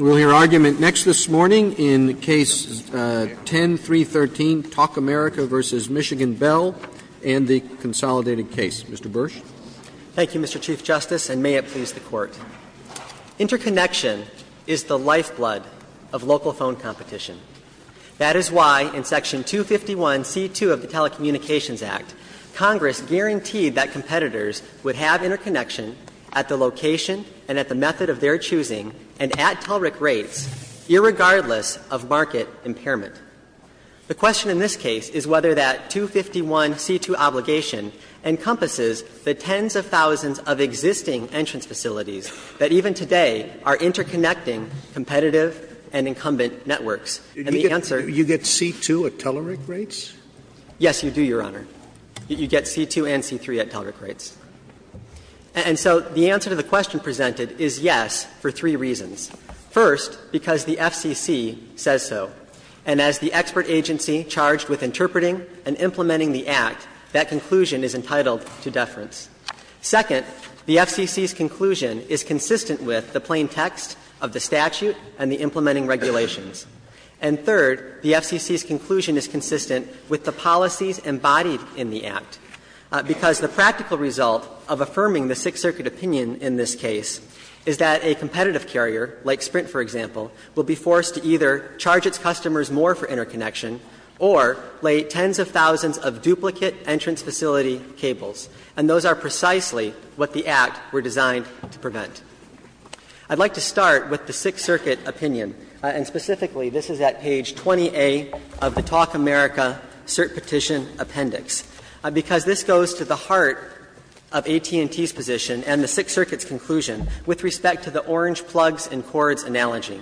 We will hear argument next this morning in Case 10-313, Talk America, v. Michigan Bell and the consolidated case. Mr. Bursch. Thank you, Mr. Chief Justice, and may it please the Court. Interconnection is the lifeblood of local phone competition. That is why in Section 251c2 of the Telecommunications Act, Congress guaranteed that competitors would have interconnection at the location and at the method of their choosing and at TELRIC rates, irregardless of market impairment. The question in this case is whether that 251c2 obligation encompasses the tens of thousands of existing entrance facilities that even today are interconnecting competitive And the answer to that question is no. You get c2 at TELRIC rates? Yes, you do, Your Honor. You get c2 and c3 at TELRIC rates. And so the answer to the question presented is yes for three reasons. First, because the FCC says so. And as the expert agency charged with interpreting and implementing the Act, that conclusion is entitled to deference. Second, the FCC's conclusion is consistent with the plain text of the statute and the implementing regulations. And third, the FCC's conclusion is consistent with the policies embodied in the Act, because the practical result of affirming the Sixth Circuit opinion in this case is that a competitive carrier, like Sprint, for example, will be forced to either charge its customers more for interconnection or lay tens of thousands of duplicate entrance facility cables. I'd like to start with the Sixth Circuit opinion. And specifically, this is at page 20A of the Talk America cert petition appendix, because this goes to the heart of AT&T's position and the Sixth Circuit's conclusion with respect to the orange plugs and cords analogy.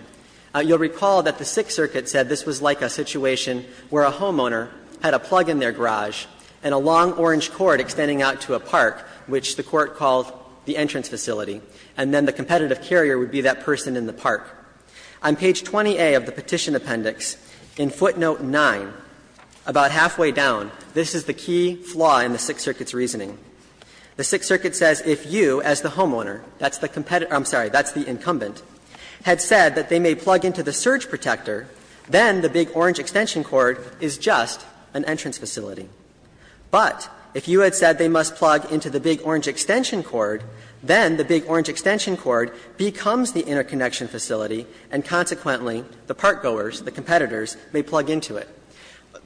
You'll recall that the Sixth Circuit said this was like a situation where a homeowner had a plug in their garage and a long orange cord extending out to a park, which the Court called the entrance facility, and then the competitive carrier would be that person in the park. On page 20A of the petition appendix, in footnote 9, about halfway down, this is the key flaw in the Sixth Circuit's reasoning. The Sixth Circuit says if you as the homeowner, that's the competitor – I'm sorry, that's the incumbent, had said that they may plug into the surge protector, then the big orange extension cord is just an entrance facility. But if you had said they must plug into the big orange extension cord, then the big orange extension cord becomes the interconnection facility, and consequently the park goers, the competitors, may plug into it.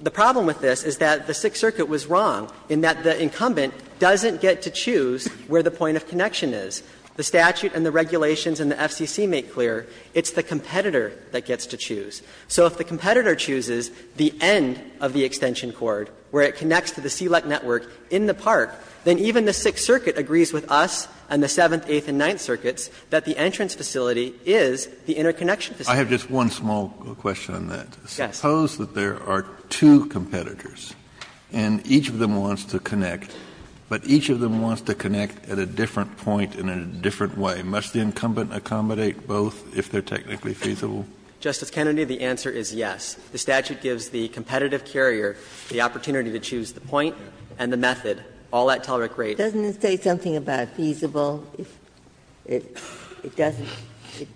The problem with this is that the Sixth Circuit was wrong in that the incumbent doesn't get to choose where the point of connection is. The statute and the regulations in the FCC make clear it's the competitor that gets to choose. So if the competitor chooses the end of the extension cord, where it connects to the CLEC network in the park, then even the Sixth Circuit agrees with us and the Seventh, Eighth, and Ninth Circuits that the entrance facility is the interconnection facility. Kennedy, but each of them wants to connect at a different point and in a different way. Must the incumbent accommodate both if they're technically feasible? Justice Kennedy, the answer is yes. The statute gives the competitive carrier the opportunity to choose the point and the method, all at tolerant rate. Ginsburg, Doesn't it say something about feasible? It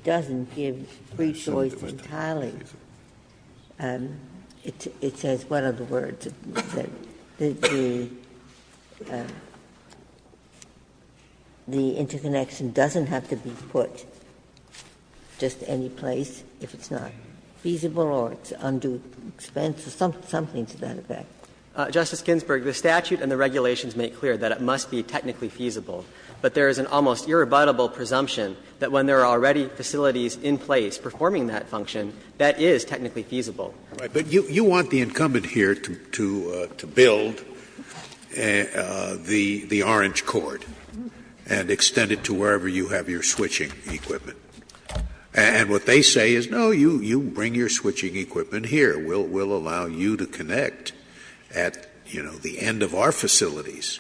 doesn't give free choice entirely. It says, what are the words? It says that the interconnection doesn't have to be put just any place. If it's not feasible or it's undue expense or something to that effect. Justice Ginsburg, the statute and the regulations make clear that it must be technically feasible, but there is an almost irrebuttable presumption that when there are already facilities in place performing that function, that is technically feasible. But you want the incumbent here to build the orange cord and extend it to wherever you have your switching equipment. And what they say is, no, you bring your switching equipment here. We'll allow you to connect at, you know, the end of our facilities.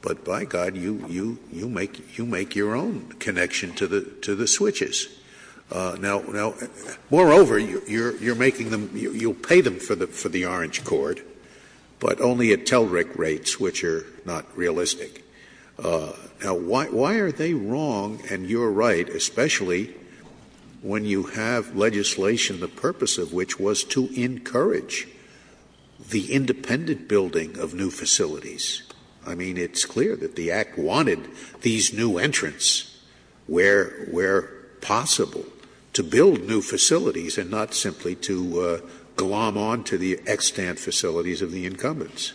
But by God, you make your own connection to the switches. Now, moreover, you're making them, you'll pay them for the orange cord, but only at telrec rates, which are not realistic. Now, why are they wrong, and you're right, especially when you have legislation, the purpose of which was to encourage the independent building of new facilities? I mean, it's clear that the Act wanted these new entrants where possible, to build new facilities and not simply to glom on to the extant facilities of the incumbents.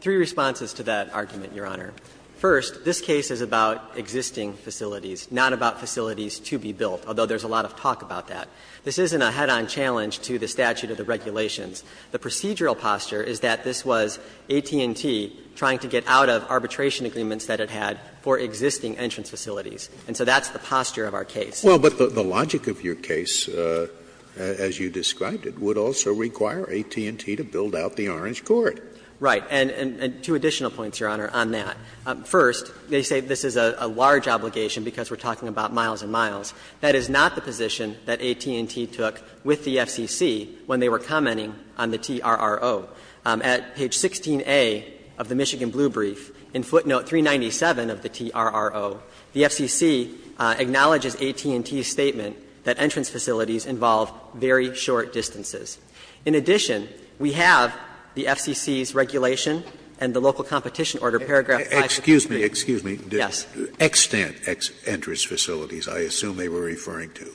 Three responses to that argument, Your Honor. First, this case is about existing facilities, not about facilities to be built, although there's a lot of talk about that. This isn't a head-on challenge to the statute of the regulations. The procedural posture is that this was AT&T trying to get out of arbitration agreements that it had for existing entrance facilities, and so that's the posture of our case. Scalia, Well, but the logic of your case, as you described it, would also require AT&T to build out the orange cord. Right. And two additional points, Your Honor, on that. First, they say this is a large obligation because we're talking about miles and miles. That is not the position that AT&T took with the FCC when they were commenting on the TRRO. At page 16A of the Michigan Blue Brief, in footnote 397 of the TRRO, the FCC acknowledges AT&T's statement that entrance facilities involve very short distances. In addition, we have the FCC's regulation and the local competition order, paragraph 563. Scalia, excuse me. Excuse me. Yes. Extant entrance facilities, I assume they were referring to.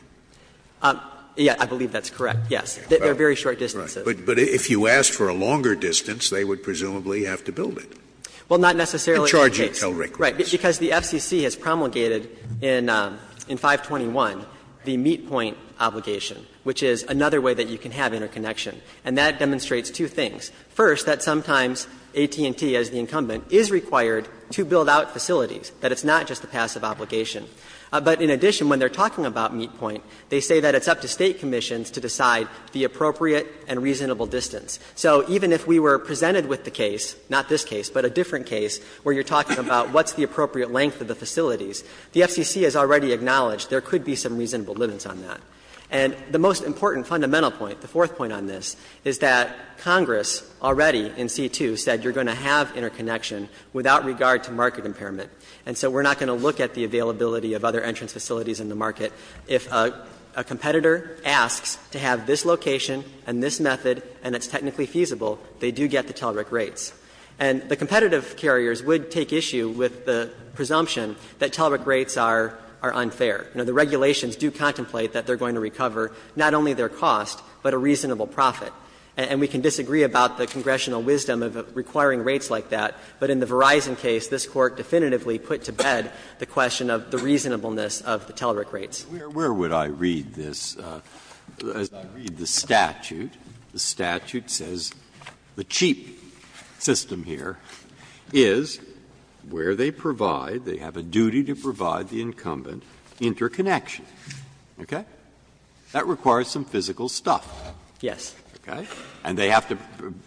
Yeah, I believe that's correct, yes. They're very short distances. But if you asked for a longer distance, they would presumably have to build it. Well, not necessarily in that case. To charge you until records. Right. Because the FCC has promulgated in 521 the meet point obligation, which is another way that you can have interconnection, and that demonstrates two things. First, that sometimes AT&T, as the incumbent, is required to build out facilities, that it's not just a passive obligation. But in addition, when they're talking about meet point, they say that it's up to State commissions to decide the appropriate and reasonable distance. So even if we were presented with the case, not this case, but a different case where you're talking about what's the appropriate length of the facilities, the FCC has already acknowledged there could be some reasonable limits on that. And the most important fundamental point, the fourth point on this, is that Congress already in C-2 said you're going to have interconnection without regard to market impairment. And so we're not going to look at the availability of other entrance facilities in the market. If a competitor asks to have this location and this method and it's technically feasible, they do get the TELRIC rates. And the competitive carriers would take issue with the presumption that TELRIC rates are unfair. You know, the regulations do contemplate that they're going to recover not only their cost, but a reasonable profit. And we can disagree about the congressional wisdom of requiring rates like that, but in the Verizon case, this Court definitively put to bed the question of the reasonableness of the TELRIC rates. Breyer, where would I read this? As I read the statute, the statute says the cheap system here is where they provide they have a duty to provide the incumbent interconnection. Okay? That requires some physical stuff. Yes. Okay? And they have to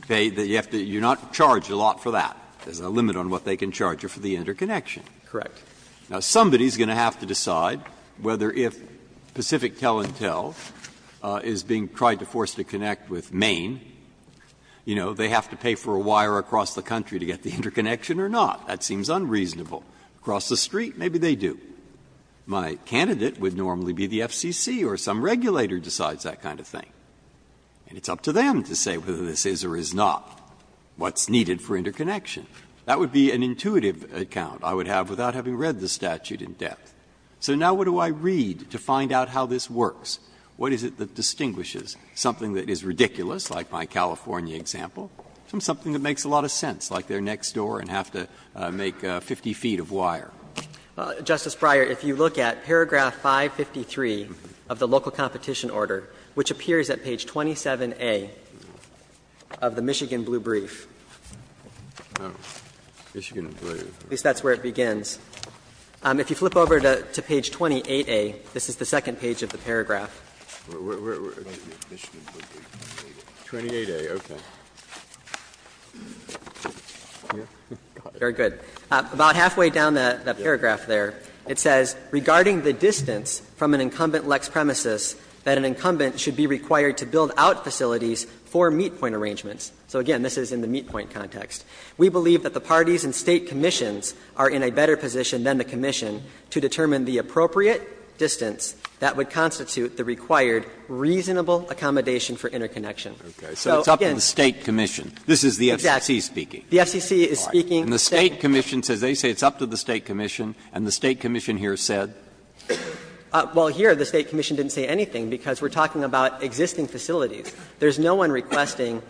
pay, you're not charged a lot for that. There's a limit on what they can charge you for the interconnection. Correct. Now, somebody is going to have to decide whether if Pacific Tel-and-Tel is being tried to force to connect with Maine, you know, they have to pay for a wire across the country to get the interconnection or not. That seems unreasonable. Across the street, maybe they do. My candidate would normally be the FCC or some regulator decides that kind of thing. And it's up to them to say whether this is or is not what's needed for interconnection. That would be an intuitive account I would have without having read the statute in depth. So now what do I read to find out how this works? What is it that distinguishes something that is ridiculous, like my California example, from something that makes a lot of sense, like they're next door and have to make 50 feet of wire? Justice Breyer, if you look at paragraph 553 of the local competition order, which appears at page 27A of the Michigan Blue Brief. Michigan Blue Brief. At least that's where it begins. If you flip over to page 28A, this is the second page of the paragraph. Very good. About halfway down the paragraph there, it says, Regarding the distance from an incumbent Lex premises, that an incumbent should be required to build out facilities for meet-point arrangements. So again, this is in the meet-point context. We believe that the parties and State commissions are in a better position than the required reasonable accommodation for interconnection. So again, this is the FCC speaking. The FCC is speaking. And the State commission says they say it's up to the State commission, and the State commission here said? Well, here the State commission didn't say anything, because we're talking about existing facilities. There's no one requesting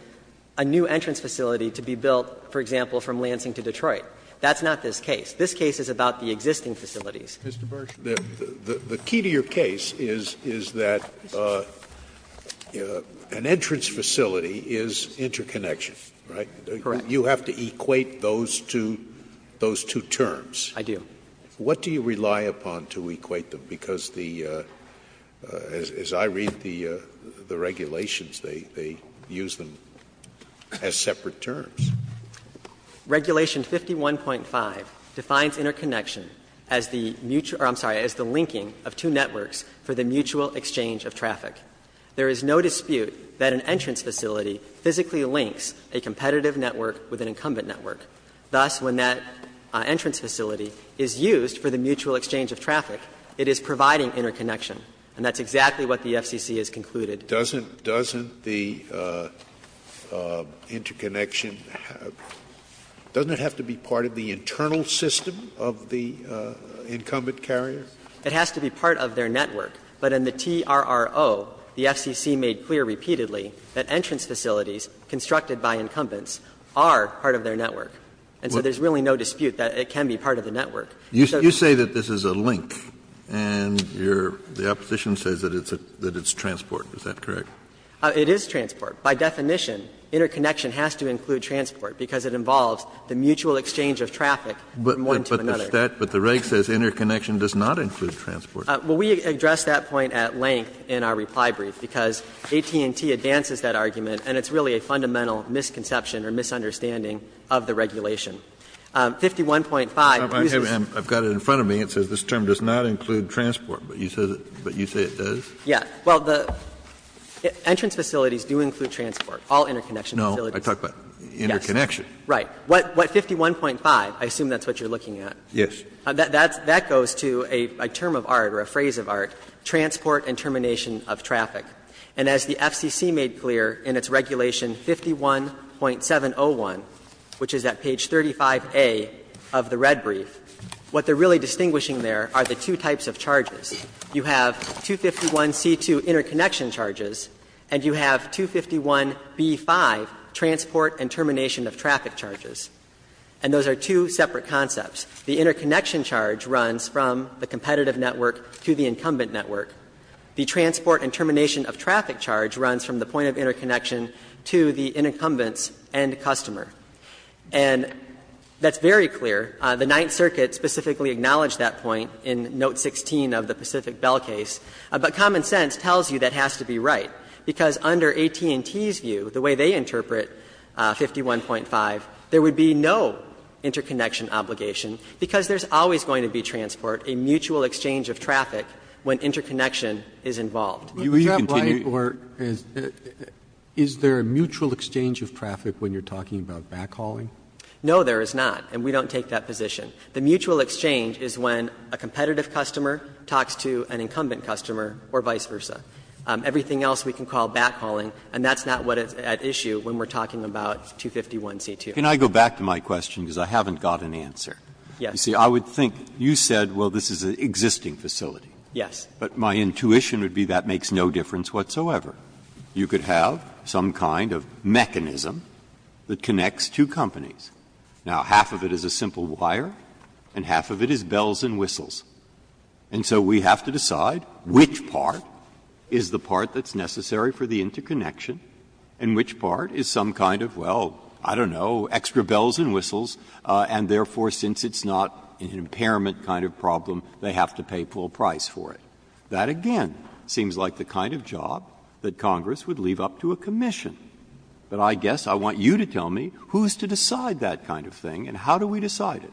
a new entrance facility to be built, for example, from Lansing to Detroit. That's not this case. This case is about the existing facilities. Mr. Bursch, the key to your case is that an entrance facility is interconnection, right? Correct. You have to equate those two terms. I do. What do you rely upon to equate them? Because the as I read the regulations, they use them as separate terms. Regulation 51.5 defines interconnection as the mutual or I'm sorry, as the linking of two networks for the mutual exchange of traffic. There is no dispute that an entrance facility physically links a competitive network with an incumbent network. Thus, when that entrance facility is used for the mutual exchange of traffic, it is providing interconnection. And that's exactly what the FCC has concluded. Doesn't the interconnection, doesn't it have to be part of the internal system of the incumbent carrier? It has to be part of their network. But in the TRRO, the FCC made clear repeatedly that entrance facilities constructed by incumbents are part of their network. And so there's really no dispute that it can be part of the network. You say that this is a link, and your the opposition says that it's a transport. Is that correct? It is transport. By definition, interconnection has to include transport because it involves the mutual exchange of traffic from one to another. But the Reg says interconnection does not include transport. Well, we addressed that point at length in our reply brief, because AT&T advances that argument, and it's really a fundamental misconception or misunderstanding of the regulation. 51.5 uses. I've got it in front of me. It says this term does not include transport. But you say it does? Yes. Well, the entrance facilities do include transport, all interconnection facilities. No, I talk about interconnection. Right. What 51.5, I assume that's what you're looking at. Yes. That goes to a term of art or a phrase of art, transport and termination of traffic. And as the FCC made clear in its regulation 51.701, which is at page 35A of the Red Brief, what they're really distinguishing there are the two types of charges. You have 251C2 interconnection charges, and you have 251B5, transport and termination of traffic charges. And those are two separate concepts. The interconnection charge runs from the competitive network to the incumbent network. The transport and termination of traffic charge runs from the point of interconnection to the inoccumbents and customer. And that's very clear. The Ninth Circuit specifically acknowledged that point in Note 16 of the Pacific Bell case. But common sense tells you that has to be right, because under AT&T's view, the way they interpret 51.5, there would be no interconnection obligation, because there's always going to be transport, a mutual exchange of traffic when interconnection is involved. Is that right? Or is there a mutual exchange of traffic when you're talking about backhauling? No, there is not. And we don't take that position. The mutual exchange is when a competitive customer talks to an incumbent customer or vice versa. Everything else we can call backhauling, and that's not what is at issue when we're talking about 251C2. Breyer. Breyer. Can I go back to my question, because I haven't got an answer? Yes. You see, I would think you said, well, this is an existing facility. Yes. But my intuition would be that makes no difference whatsoever. You could have some kind of mechanism that connects two companies. Now, half of it is a simple wire, and half of it is bells and whistles. And so we have to decide which part is the part that's necessary for the interconnection and which part is some kind of, well, I don't know, extra bells and whistles, and therefore, since it's not an impairment kind of problem, they have to pay full price for it. That, again, seems like the kind of job that Congress would leave up to a commission. But I guess I want you to tell me who's to decide that kind of thing, and how do we decide it?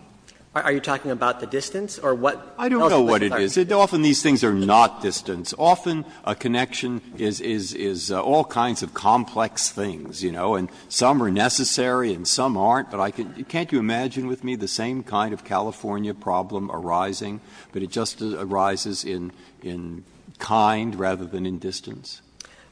Are you talking about the distance or what else would be necessary? I don't know what it is. Often these things are not distance. Often a connection is all kinds of complex things, you know, and some are necessary and some aren't, but I can't you imagine with me the same kind of California problem arising, but it just arises in kind rather than in distance?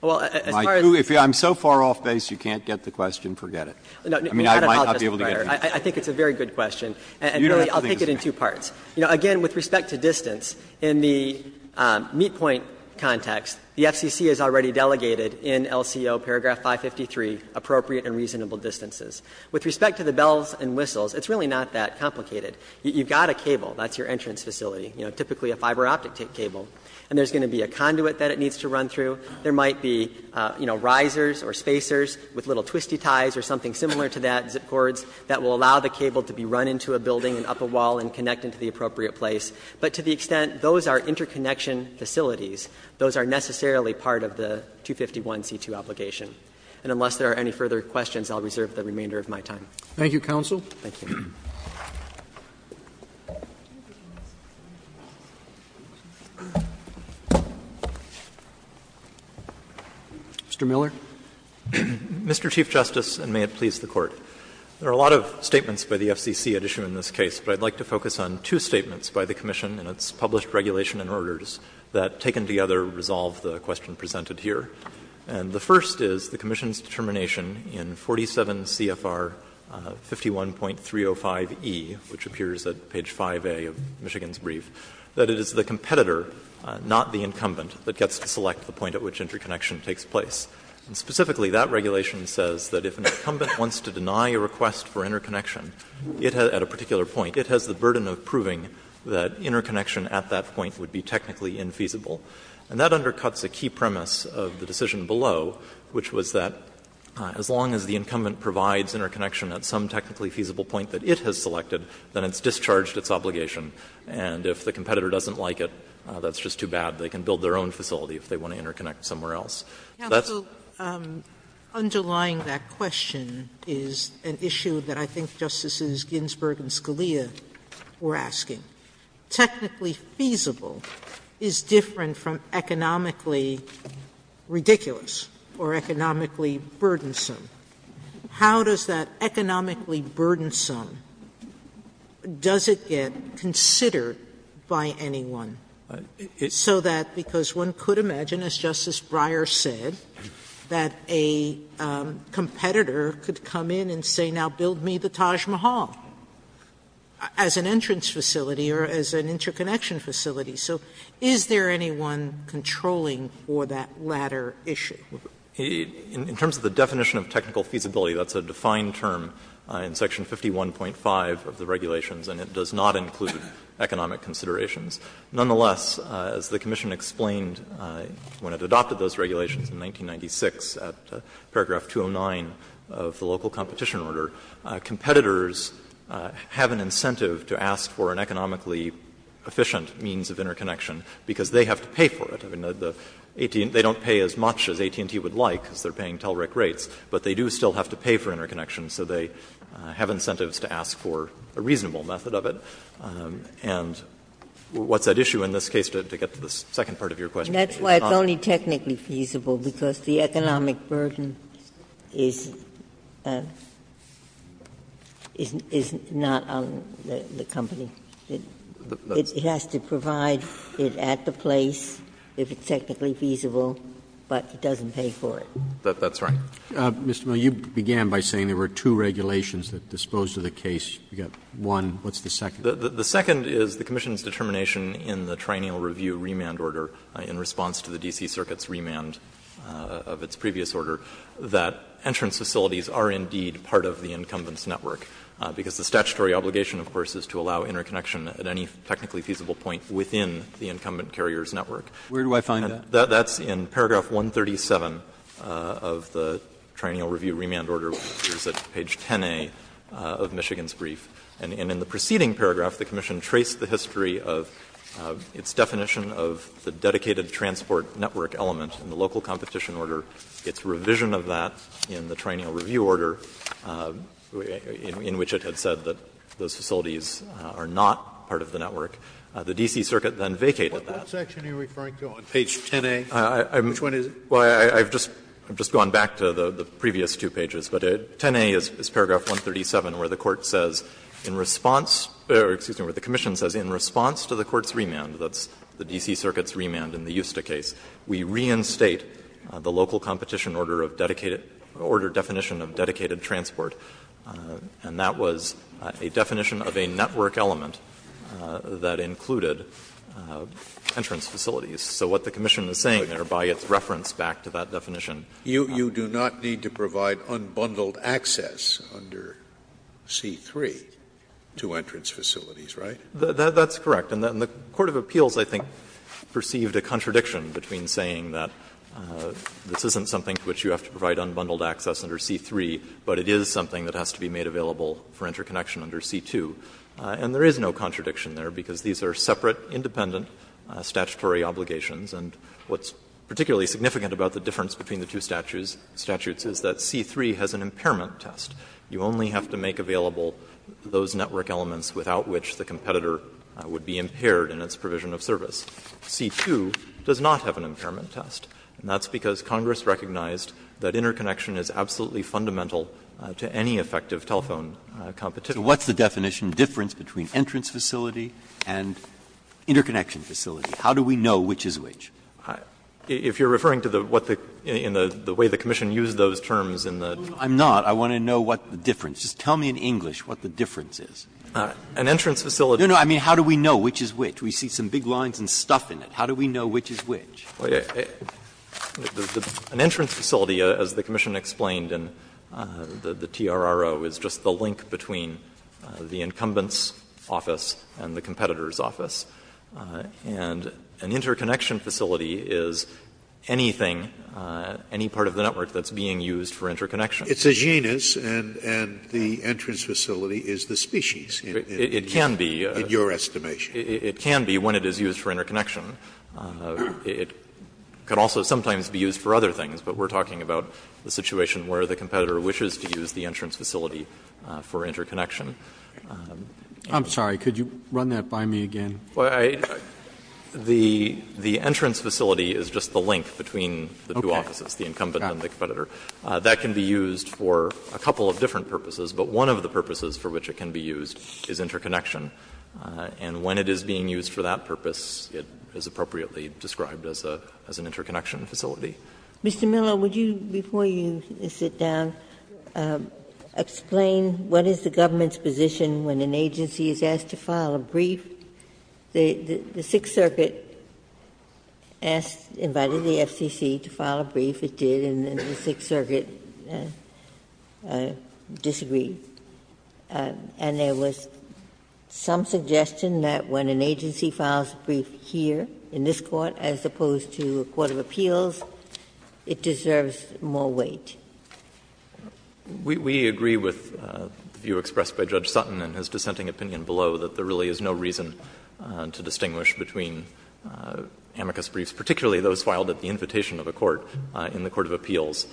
If I'm so far off base, you can't get the question, forget it. I mean, I might not be able to get it. I think it's a very good question, and I'll take it in two parts. You know, again, with respect to distance, in the meet point context, the FCC has already delegated in LCO paragraph 553 appropriate and reasonable distances. With respect to the bells and whistles, it's really not that complicated. You've got a cable, that's your entrance facility, you know, typically a fiber optic cable, and there's going to be a conduit that it needs to run through. There might be, you know, risers or spacers with little twisty ties or something similar to that, zip cords, that will allow the cable to be run into a building and up a wall and connect into the appropriate place. But to the extent those are interconnection facilities, those are necessarily part of the 251c2 obligation. And unless there are any further questions, I'll reserve the remainder of my time. Roberts. Thank you, counsel. Thank you. Mr. Miller. Mr. Chief Justice, and may it please the Court. There are a lot of statements by the FCC at issue in this case, but I'd like to focus on two statements by the commission in its published regulation and orders that, taken together, resolve the question presented here. And the first is the commission's determination in 47 CFR 51.305e, which appears at page 5A of Michigan's brief, that it is the competitor, not the incumbent, that gets to select the point at which interconnection takes place. And specifically, that regulation says that if an incumbent wants to deny a request for interconnection, it has at a particular point, it has the burden of proving that interconnection at that point would be technically infeasible. And that undercuts a key premise of the decision below, which was that as long as the incumbent provides interconnection at some technically feasible point that it has selected, then it's discharged its obligation. And if the competitor doesn't like it, that's just too bad. They can build their own facility if they want to interconnect somewhere else. That's the point. Sotomayor, underlying that question is an issue that I think Justices Ginsburg and Scalia were asking. If a facility is technically feasible, technically feasible is different from economically ridiculous or economically burdensome. How does that economically burdensome, does it get considered by anyone, so that because one could imagine, as Justice Breyer said, that a competitor could come in and say, now build me the Taj Mahal. As an entrance facility or as an interconnection facility. So is there anyone controlling for that latter issue? In terms of the definition of technical feasibility, that's a defined term in section 51.5 of the regulations, and it does not include economic considerations. Nonetheless, as the commission explained when it adopted those regulations in 1996 at paragraph 209 of the local competition order, competitors have an incentive to ask for an economically efficient means of interconnection because they have to pay for it. I mean, the AT&T, they don't pay as much as AT&T would like because they're paying TELRIC rates, but they do still have to pay for interconnections, so they have incentives to ask for a reasonable method of it. And what's at issue in this case, to get to the second part of your question? Ginsburg-Miller, and that's why it's only technically feasible, because the economic burden is not on the company. It has to provide it at the place if it's technically feasible, but it doesn't pay for it. That's right. Mr. Miller, you began by saying there were two regulations that disposed of the case. You've got one. What's the second? The second is the commission's determination in the Triennial Review remand order in response to the D.C. Circuit's remand of its previous order that entrance facilities are indeed part of the incumbent's network, because the statutory obligation, of course, is to allow interconnection at any technically feasible point within the incumbent carrier's network. Where do I find that? That's in paragraph 137 of the Triennial Review remand order, which is at page 10a of Michigan's brief. And in the preceding paragraph, the commission traced the history of its definition of the dedicated transport network element in the local competition order, its revision of that in the Triennial Review order, in which it had said that those facilities are not part of the network. The D.C. Circuit then vacated that. Scalia What section are you referring to on page 10a? Which one is it? Miller, I've just gone back to the previous two pages. But 10a is paragraph 137, where the court says in response or, excuse me, where the commission says in response to the court's remand, that's the D.C. Circuit's remand in the Usta case, we reinstate the local competition order of dedicated order definition of dedicated transport, and that was a definition of a network element that included entrance facilities. So what the commission is saying there, by its reference back to that definition of the network element. Scalia You do not need to provide unbundled access under C-3 to entrance facilities, right? Miller That's correct. And the court of appeals, I think, perceived a contradiction between saying that this isn't something to which you have to provide unbundled access under C-3, but it is something that has to be made available for interconnection under C-2. And there is no contradiction there, because these are separate, independent statutory obligations. And what's particularly significant about the difference between the two statutes is that C-3 has an impairment test. You only have to make available those network elements without which the competitor would be impaired in its provision of service. C-2 does not have an impairment test, and that's because Congress recognized that interconnection is absolutely fundamental to any effective telephone competition. Breyer So what's the definition difference between entrance facility and interconnection facility? How do we know which is which? Miller If you are referring to the way the commission used those terms in the Breyer I'm not. I want to know what the difference is. Tell me in English what the difference is. Miller An entrance facility Breyer No, no. I mean, how do we know which is which? We see some big lines and stuff in it. How do we know which is which? Miller Well, an entrance facility, as the commission explained in the TRRO, is just the link between the incumbent's office and the competitor's office. And an interconnection facility is anything, any part of the network that's being used for interconnection. Scalia It's a genus, and the entrance facility is the species, in your estimation. Miller It can be when it is used for interconnection. It could also sometimes be used for other things, but we're talking about the situation where the competitor wishes to use the entrance facility for interconnection. Roberts I'm sorry. Could you run that by me again? Miller The entrance facility is just the link between the two offices, the incumbent and the competitor. That can be used for a couple of different purposes, but one of the purposes for which it can be used is interconnection. And when it is being used for that purpose, it is appropriately described as an interconnection facility. Ginsburg Mr. Miller, would you, before you sit down, explain what is the government's position when an agency is asked to file a brief? The Sixth Circuit asked, invited the FCC to file a brief. It did, and the Sixth Circuit disagreed. And there was some suggestion that when an agency files a brief here, in this Court, as opposed to a court of appeals, it deserves more weight. Miller We agree with the view expressed by Judge Sutton in his dissenting opinion below that there really is no reason to distinguish between amicus briefs, particularly those filed at the invitation of a court in the court of appeals,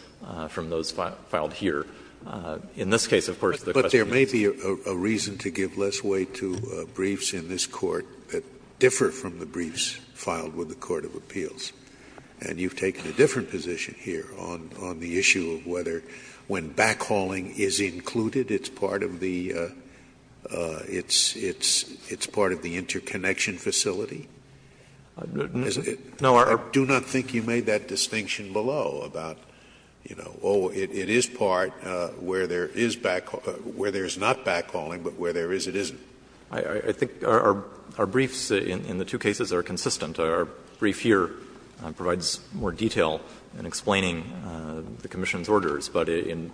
from those filed here. In this case, of course, the question is Scalia But there may be a reason to give less weight to briefs in this Court that differ from the briefs filed with the court of appeals. And you have taken a different position here on the issue of whether, when backhauling is included, it's part of the interconnection facility? Miller No, our Scalia I do not think you made that distinction below about, you know, oh, it is part where there is backhauling, where there is not backhauling, but where there is, it isn't. Miller I think our briefs in the two cases are consistent. Our brief here provides more detail in explaining the commission's orders. But in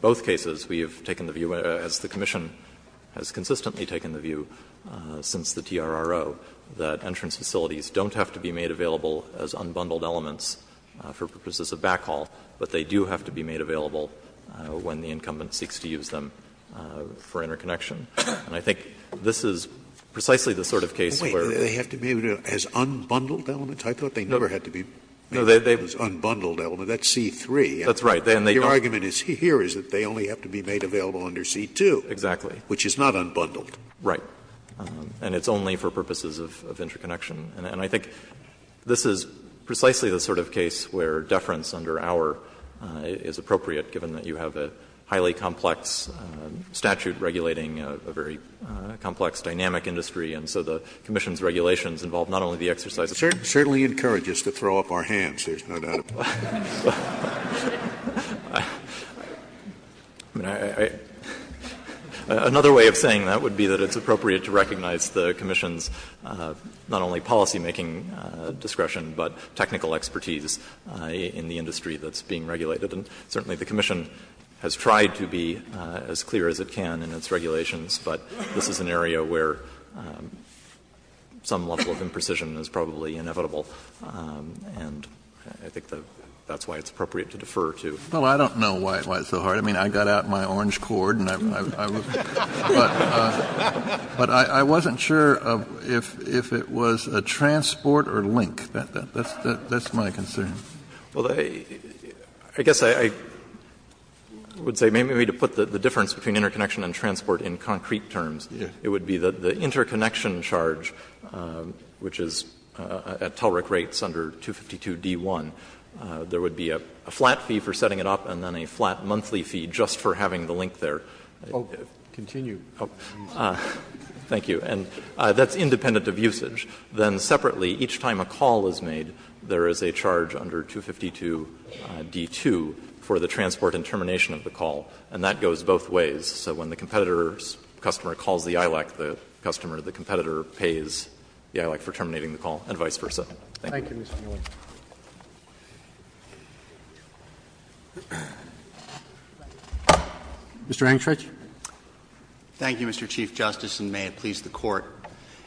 both cases, we have taken the view, as the commission has consistently taken the view since the TRRO, that entrance facilities don't have to be made available as unbundled elements for purposes of backhaul, but they do have to be made available when the incumbent seeks to use them for interconnection. And I think this is precisely the sort of case where Scalia They have to be made as unbundled elements? I thought they never had to be made as unbundled elements. That's C-3. Miller That's right. Scalia Your argument here is that they only have to be made available under C-2. Miller Exactly. Scalia Which is not unbundled. Miller Right. And it's only for purposes of interconnection. And I think this is precisely the sort of case where deference under our is appropriate, given that you have a highly complex statute regulating a very complex dynamic industry, and so the commission's regulations involve not only the exercise of the statute. Scalia It certainly encourages us to throw up our hands, there's no doubt about it. I mean, I — another way of saying that would be that it's appropriate to recognize the commission's not only policymaking discretion, but technical expertise in the industry that's being regulated. And certainly the commission has tried to be as clear as it can in its regulations, but this is an area where some level of imprecision is probably inevitable. And I think that's why it's appropriate to defer to. Kennedy Well, I don't know why it's so hard. I mean, I got out my orange cord and I was — But I wasn't sure if it was a transport or link. That's my concern. Miller Well, I guess I would say maybe we need to put the difference between interconnection and transport in concrete terms. It would be that the interconnection charge, which is at TELRIC rates under 252d1, there would be a flat fee for setting it up and then a flat monthly fee just for having the link there. Scalia Oh, continue. Miller Thank you. And that's independent of usage. Then separately, each time a call is made, there is a charge under 252d2 for the transport and termination of the call, and that goes both ways. So when the competitor's customer calls the ILEC, the customer, the competitor pays the ILEC for terminating the call, and vice versa. Thank you. Roberts Thank you, Mr. Miller. Mr. Engstrich. Engstrich Thank you, Mr. Chief Justice, and may it please the Court.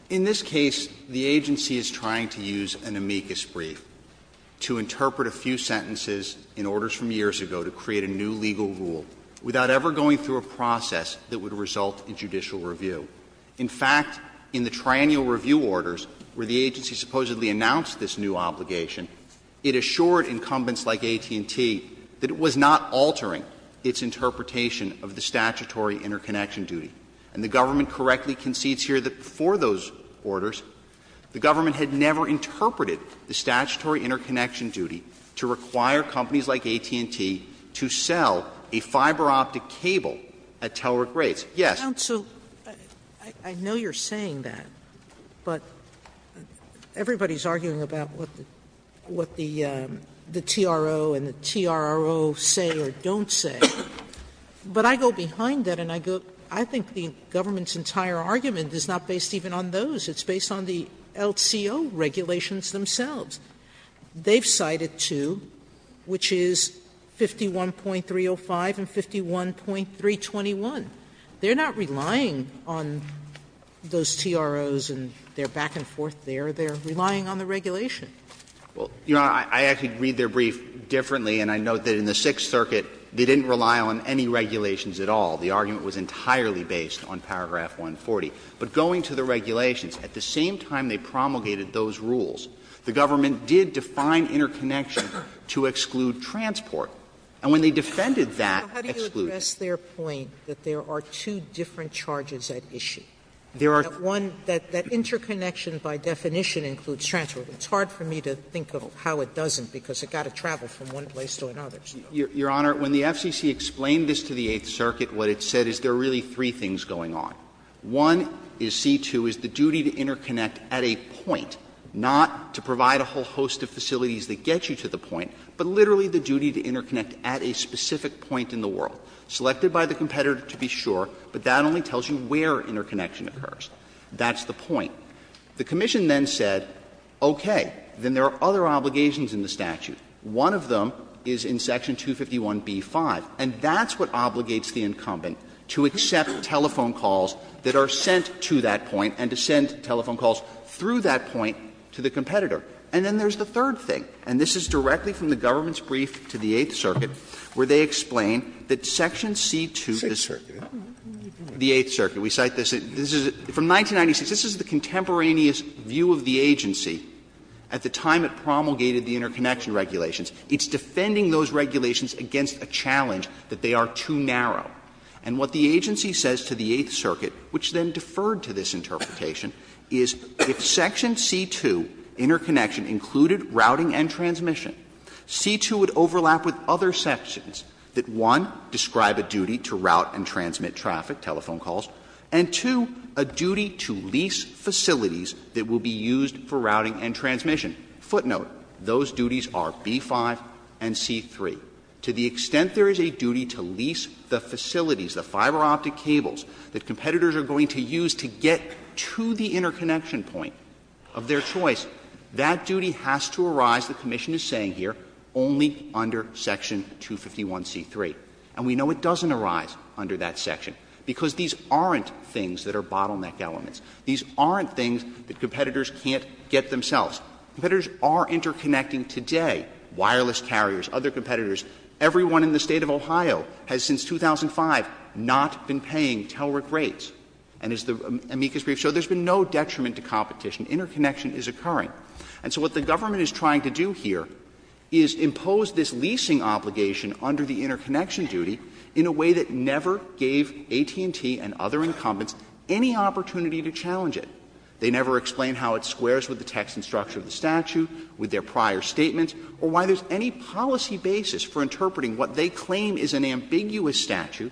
In this case, the agency is trying to use an amicus brief to interpret a few sentences in orders from years ago to create a new legal rule without ever going through a process that would result in judicial review. In fact, in the triannual review orders where the agency supposedly announced this new obligation, it assured incumbents like AT&T that it was not altering its interpretation of the statutory interconnection duty, and the government correctly concedes here that before those orders, the government had never interpreted the statutory interconnection duty to require companies like AT&T to sell a fiber-optic cable at TELRIC rates. Yes. Sotomayor Counsel, I know you're saying that, but everybody's arguing about what the TRO and the TRRO say or don't say. But I go behind that and I go — I think the government's entire argument is not based even on those. It's based on the LCO regulations themselves. They've cited two, which is 51.305 and 51.321. They're not relying on those TROs and their back-and-forth there. They're relying on the regulation. Well, Your Honor, I actually read their brief differently, and I note that in the Sixth Circuit they didn't rely on any regulations at all. The argument was entirely based on paragraph 140. But going to the regulations, at the same time they promulgated those rules, the government did define interconnection to exclude transport. And when they defended that, excluded it. Sotomayor How do you address their point that there are two different charges at issue? That one — that interconnection by definition includes transport. It's hard for me to think of how it doesn't, because it's got to travel from one place to another. Your Honor, when the FCC explained this to the Eighth Circuit, what it said is there are really three things going on. One is C-2 is the duty to interconnect at a point, not to provide a whole host of facilities that get you to the point, but literally the duty to interconnect at a specific point in the world, selected by the competitor to be sure, but that only tells you where interconnection occurs. That's the point. The commission then said, okay, then there are other obligations in the statute. One of them is in section 251b-5, and that's what obligates the incumbent to accept telephone calls that are sent to that point and to send telephone calls through that point to the competitor. And then there's the third thing, and this is directly from the government's brief to the Eighth Circuit, where they explain that section C-2 is the Eighth Circuit. We cite this. From 1996, this is the contemporaneous view of the agency at the time it promulgated the interconnection regulations. It's defending those regulations against a challenge that they are too narrow. And what the agency says to the Eighth Circuit, which then deferred to this interpretation, is if section C-2, interconnection, included routing and transmission, C-2 would overlap with other sections that, one, describe a duty to route and transmit traffic, telephone calls, and, two, a duty to lease facilities that will be used for routing and transmission. Footnote, those duties are B-5 and C-3. To the extent there is a duty to lease the facilities, the fiberoptic cables that competitors are going to use to get to the interconnection point of their choice, that duty has to arise, the commission is saying here, only under section 251c3. And we know it doesn't arise under that section, because these aren't things that are bottleneck elements. These aren't things that competitors can't get themselves. Competitors are interconnecting today, wireless carriers, other competitors. Everyone in the State of Ohio has since 2005 not been paying TELRIC rates. And as the amicus brief showed, there has been no detriment to competition. Interconnection is occurring. And so what the government is trying to do here is impose this leasing obligation under the interconnection duty in a way that never gave AT&T and other incumbents any opportunity to challenge it. They never explain how it squares with the text and structure of the statute, with their prior statements, or why there is any policy basis for interpreting what they claim is an ambiguous statute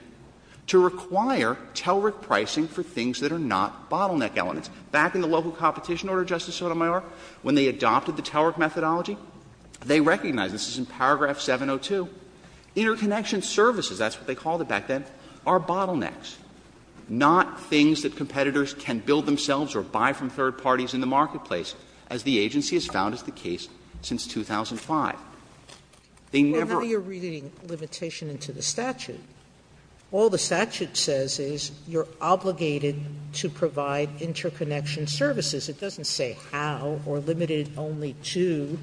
to require TELRIC pricing for things that are not bottleneck elements. Back in the local competition order, Justice Sotomayor, when they adopted the TELRIC methodology, they recognized, this is in paragraph 702, interconnection services, that's what they called it back then, are bottlenecks, not things that are buy-from-third-parties in the marketplace, as the agency has found is the case since 2005. They never ---- Sotomayor, now you're reading limitation into the statute. All the statute says is you're obligated to provide interconnection services. It doesn't say how or limited only to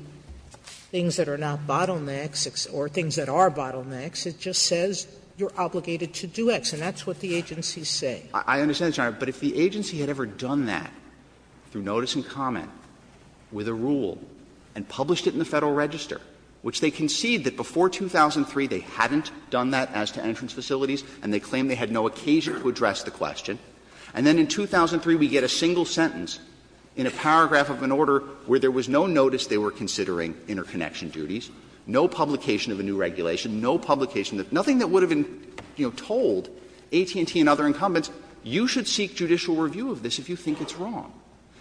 things that are not bottlenecks or things that are bottlenecks. It just says you're obligated to do X, and that's what the agency is saying. I understand, Your Honor, but if the agency had ever done that through notice and comment with a rule and published it in the Federal Register, which they concede that before 2003 they hadn't done that as to entrance facilities, and they claimed they had no occasion to address the question, and then in 2003 we get a single sentence in a paragraph of an order where there was no notice they were considering interconnection duties, no publication of a new regulation, no publication of nothing that would have been, you know, told AT&T and other incumbents, you should seek judicial review of this if you think it's wrong.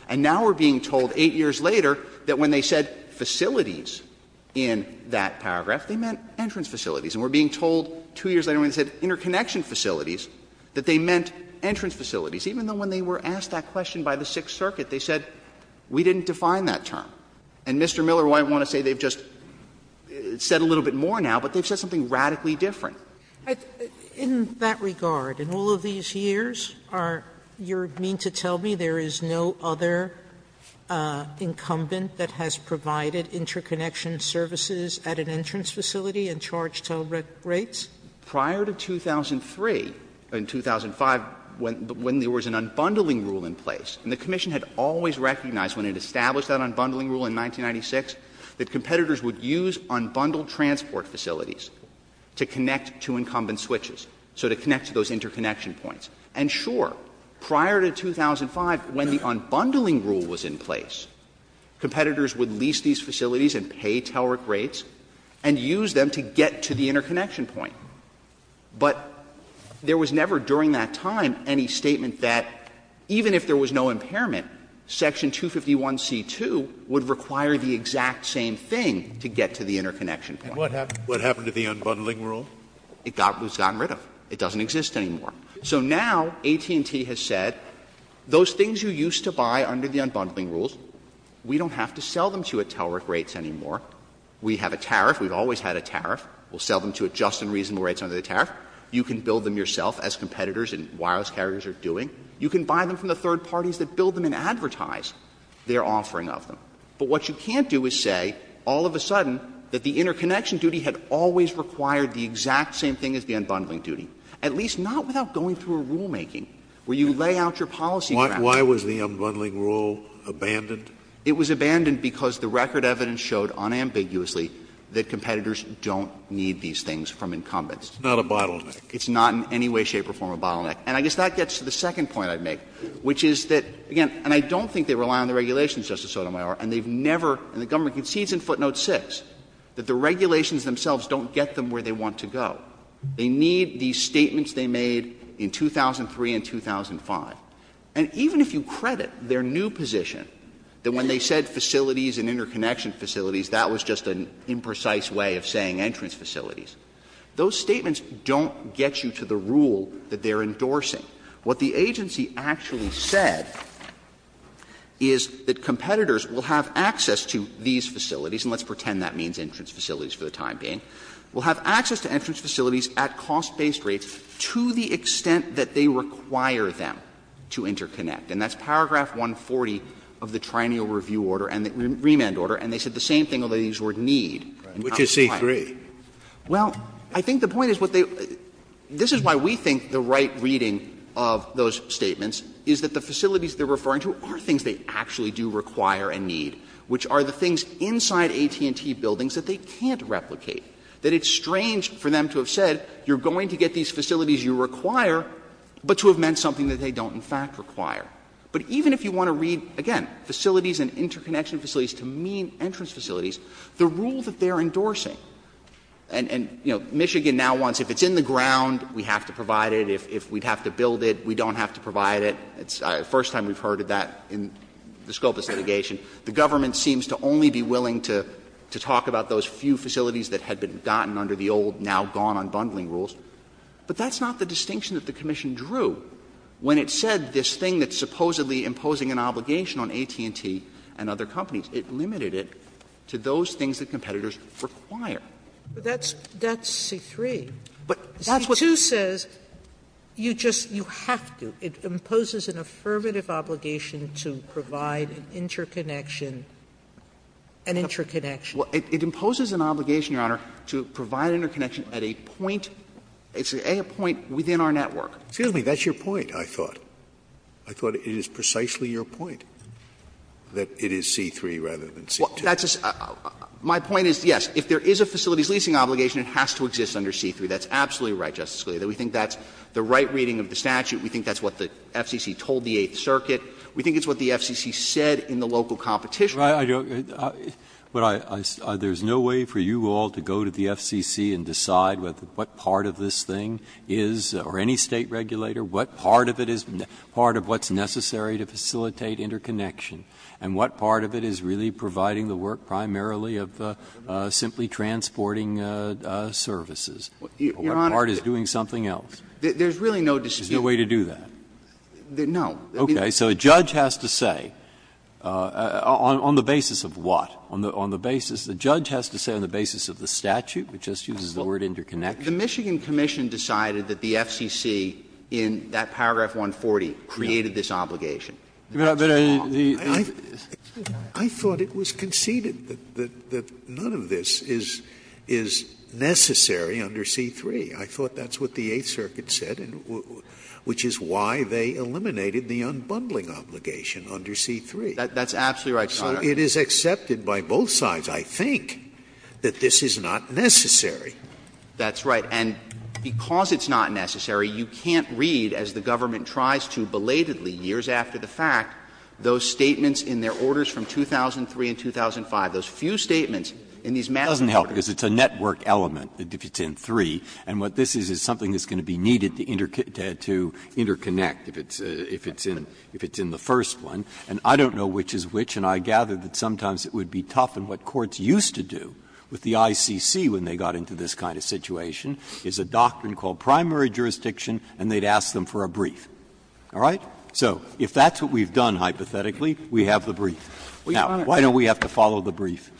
And now we're being told 8 years later that when they said facilities in that paragraph, they meant entrance facilities, and we're being told 2 years later when they said interconnection facilities that they meant entrance facilities, even though when they were asked that question by the Sixth Circuit, they said we didn't define that term. And Mr. Miller might want to say they've just said a little bit more now, but they've said something radically different. Sotomayor, in that regard, in all of these years, are you mean to tell me there is no other incumbent that has provided interconnection services at an entrance facility and charged toll rates? Prior to 2003, in 2005, when there was an unbundling rule in place, and the commission had always recognized when it established that unbundling rule in 1996 that competitors would use unbundled transport facilities to connect to incumbent switches, so to connect to those interconnection points. And sure, prior to 2005, when the unbundling rule was in place, competitors would lease these facilities and pay toll rates and use them to get to the interconnection point. But there was never during that time any statement that even if there was no impairment, Section 251c2 would require the exact same thing to get to the interconnection point. And what happened to the unbundling rule? It was gotten rid of. It doesn't exist anymore. So now AT&T has said those things you used to buy under the unbundling rules, we don't have to sell them to you at toll rates anymore. We have a tariff. We've always had a tariff. We'll sell them to you at just and reasonable rates under the tariff. You can build them yourself as competitors and wireless carriers are doing. You can buy them from the third parties that build them and advertise their offering of them. But what you can't do is say all of a sudden that the interconnection duty had always required the exact same thing as the unbundling duty, at least not without going through a rulemaking where you lay out your policy ground. Scalia Why was the unbundling rule abandoned? It was abandoned because the record evidence showed unambiguously that competitors don't need these things from incumbents. It's not a bottleneck. It's not in any way, shape or form a bottleneck. And I guess that gets to the second point I'd make, which is that, again, and I don't think they rely on the regulations, Justice Sotomayor, and they've never, and the government concedes in footnote 6 that the regulations themselves don't get them where they want to go. They need these statements they made in 2003 and 2005. And even if you credit their new position that when they said facilities and interconnection facilities, that was just an imprecise way of saying entrance facilities, those statements don't get you to the rule that they're endorsing. What the agency actually said is that competitors will have access to these facilities and let's pretend that means entrance facilities for the time being, will have access to entrance facilities at cost-based rates to the extent that they require them to interconnect. And that's paragraph 140 of the Triennial Review order and the remand order, and they said the same thing, although they used the word need. Scalia Which is C-3. Well, I think the point is what they – this is why we think the right reading of those statements is that the facilities they're referring to are things they actually do require and need, which are the things inside AT&T buildings that they can't replicate, that it's strange for them to have said you're going to get these facilities you require, but to have meant something that they don't in fact require. But even if you want to read, again, facilities and interconnection facilities to mean entrance facilities, the rule that they're endorsing, and, you know, Michigan now wants if it's in the ground, we have to provide it, if we'd have to build it, we don't have to provide it. It's the first time we've heard of that in the scope of litigation. The government seems to only be willing to talk about those few facilities that had been gotten under the old, now-gone-unbundling rules. But that's not the distinction that the commission drew when it said this thing that's supposedly imposing an obligation on AT&T and other companies. It limited it to those things that competitors require. Sotomayor But that's C-3. Verrilli, C-2 says you just, you have to. It imposes an affirmative obligation to provide an interconnection, an interconnection. Verrilli, C-3. Well, it imposes an obligation, Your Honor, to provide interconnection at a point, a point within our network. Scalia Excuse me. That's your point, I thought. I thought it is precisely your point that it is C-3 rather than C-2. Verrilli, C-2. My point is, yes, if there is a facilities leasing obligation, it has to exist under C-3. That's absolutely right, Justice Scalia. We think that's the right reading of the statute. We think that's what the FCC told the Eighth Circuit. We think it's what the FCC said in the local competition. Breyer, I don't — there's no way for you all to go to the FCC and decide what part of this thing is, or any State regulator, what part of it is part of what's necessary to facilitate interconnection, and what part of it is really providing the work primarily of simply transporting services, or what part is doing something else. There's really no decision. There's no way to do that? No. Okay. So a judge has to say, on the basis of what? On the basis — the judge has to say on the basis of the statute, which just uses the word interconnection. The Michigan Commission decided that the FCC in that paragraph 140 created this obligation. That's wrong. I thought it was conceded that none of this is necessary under C-3. I thought that's what the Eighth Circuit said, which is why they eliminated the unbundling obligation under C-3. That's absolutely right, Your Honor. So it is accepted by both sides, I think, that this is not necessary. That's right. And because it's not necessary, you can't read, as the government tries to belatedly years after the fact, those statements in their orders from 2003 and 2005, those few statements in these massive orders. That doesn't help, because it's a network element, if it's in 3. And what this is is something that's going to be needed to interconnect if it's in the first one. And I don't know which is which, and I gather that sometimes it would be tough, and what courts used to do with the ICC when they got into this kind of situation is a doctrine called primary jurisdiction, and they'd ask them for a brief, all right? So if that's what we've done hypothetically, we have the brief. Now, why don't we have to follow the brief?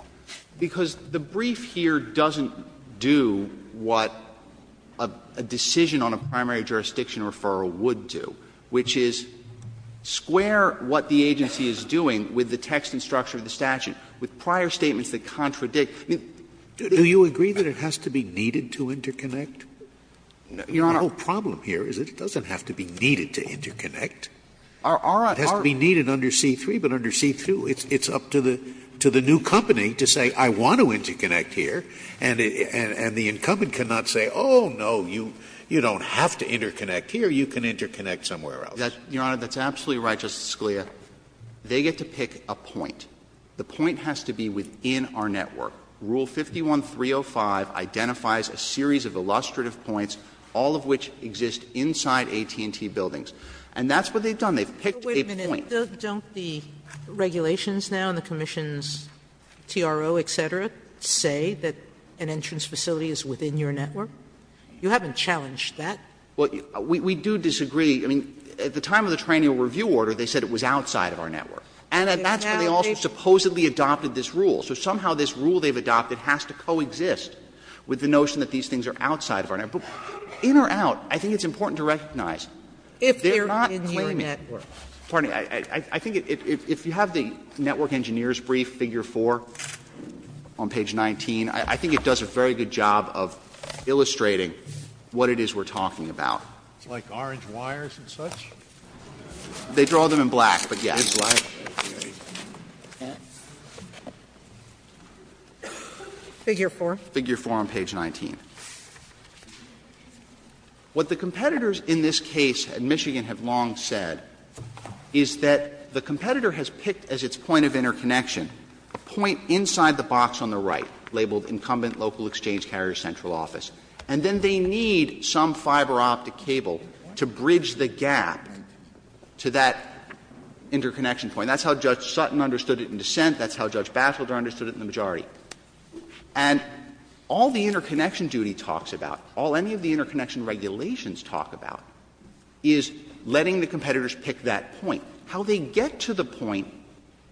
Because the brief here doesn't do what a decision on a primary jurisdiction referral would do, which is square what the agency is doing with the text and structure of the statute, with prior statements that contradict. Scalia. Do you agree that it has to be needed to interconnect? Your Honor. The whole problem here is it doesn't have to be needed to interconnect. It has to be needed under C-3, but under C-2, it's up to the new company to say, I want to interconnect here, and the incumbent cannot say, oh, no, you don't have to interconnect here, you can interconnect somewhere else. Your Honor, that's absolutely right, Justice Scalia. They get to pick a point. The point has to be within our network. Rule 51-305 identifies a series of illustrative points, all of which exist inside AT&T buildings. And that's what they've done. They've picked a point. Sotomayor, don't the regulations now in the commission's TRO, et cetera, say that an entrance facility is within your network? You haven't challenged that. Well, we do disagree. I mean, at the time of the trainee review order, they said it was outside of our network. And that's where they also supposedly adopted this rule. So somehow this rule they've adopted has to coexist with the notion that these things are outside of our network. But in or out, I think it's important to recognize, they're not claiming. If they're in your network. Pardon me. I think if you have the network engineer's brief, figure 4, on page 19, I think it does a very good job of illustrating what it is we're talking about. It's like orange wires and such? They draw them in black, but yes. Figure 4? Figure 4 on page 19. What the competitors in this case in Michigan have long said is that the competitor has picked as its point of interconnection a point inside the box on the right, labeled incumbent local exchange carrier central office, and then they need some fiberoptic cable to bridge the gap to that interconnection point. That's how Judge Sutton understood it in dissent. That's how Judge Batchelder understood it in the majority. And all the interconnection duty talks about, all any of the interconnection regulations talk about, is letting the competitors pick that point. How they get to the point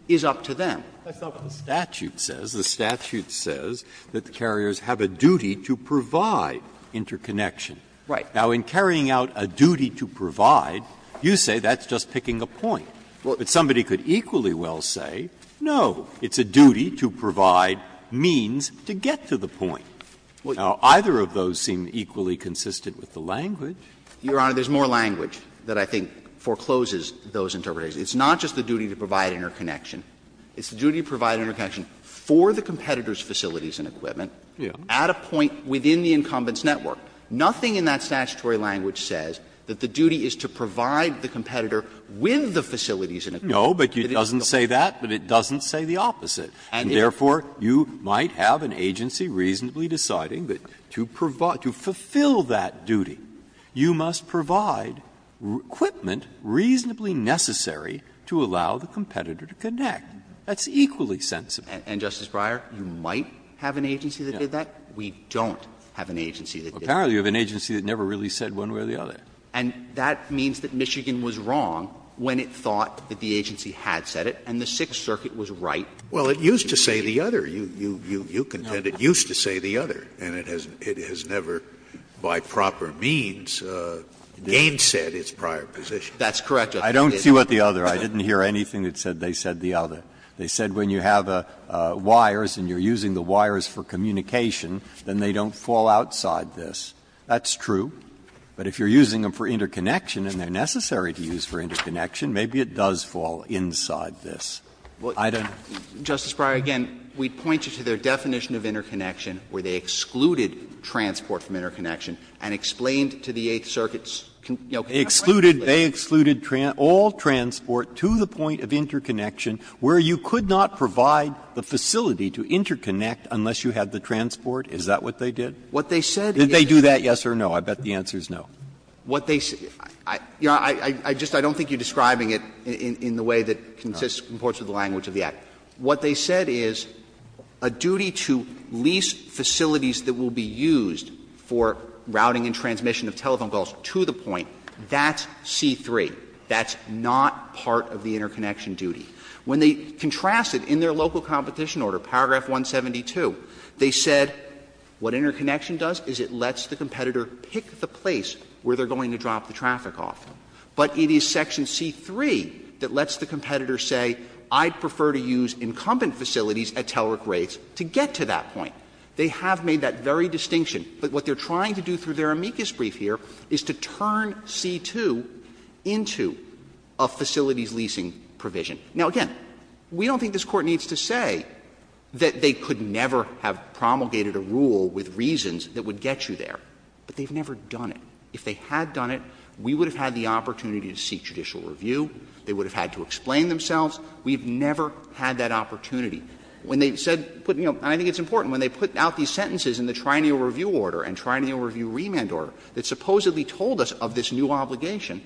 is up to them. Breyer. That's not what the statute says. The statute says that the carriers have a duty to provide interconnection. Right. Now, in carrying out a duty to provide, you say that's just picking a point. But somebody could equally well say, no, it's a duty to provide means to get to the point. Now, either of those seem equally consistent with the language. Your Honor, there's more language that I think forecloses those interpretations. It's not just the duty to provide interconnection. It's the duty to provide interconnection for the competitor's facilities and equipment at a point within the incumbent's network. Nothing in that statutory language says that the duty is to provide the competitor with the facilities and equipment. Breyer. No, but it doesn't say that, but it doesn't say the opposite. And therefore, you might have an agency reasonably deciding that to provide, to fulfill that duty, you must provide equipment reasonably necessary to allow the competitor to connect. That's equally sensible. And, Justice Breyer, you might have an agency that did that. We don't have an agency that did that. Apparently, you have an agency that never really said one way or the other. And that means that Michigan was wrong when it thought that the agency had said it, and the Sixth Circuit was right. Well, it used to say the other. You contend it used to say the other, and it has never, by proper means, gainsaid its prior position. That's correct, Justice Breyer. I don't see what the other. I didn't hear anything that said they said the other. They said when you have wires and you're using the wires for communication, then they don't fall outside this. That's true. But if you're using them for interconnection and they're necessary to use for interconnection, maybe it does fall inside this. I don't know. Justice Breyer, again, we'd point you to their definition of interconnection, where they excluded transport from interconnection and explained to the Eighth Circuit's conclusion. They excluded all transport to the point of interconnection where you could not provide the facility to interconnect unless you had the transport. Is that what they did? What they said is that they do that, yes or no? I bet the answer is no. What they said ‑‑ I just don't think you're describing it in the way that consists of the language of the Act. What they said is a duty to lease facilities that will be used for routing and transmission of telephone calls to the point, that's C-3. That's not part of the interconnection duty. When they contrasted in their local competition order, paragraph 172, they said what interconnection does is it lets the competitor pick the place where they're going to drop the traffic off. But it is section C-3 that lets the competitor say I'd prefer to use incumbent facilities at Telric rates to get to that point. They have made that very distinction. But what they're trying to do through their amicus brief here is to turn C-2 into a facilities leasing provision. Now, again, we don't think this Court needs to say that they could never have promulgated a rule with reasons that would get you there, but they've never done it. If they had done it, we would have had the opportunity to seek judicial review. They would have had to explain themselves. We've never had that opportunity. When they said ‑‑ and I think it's important. When they put out these sentences in the Triennial Review order and Triennial Review remand order that supposedly told us of this new obligation,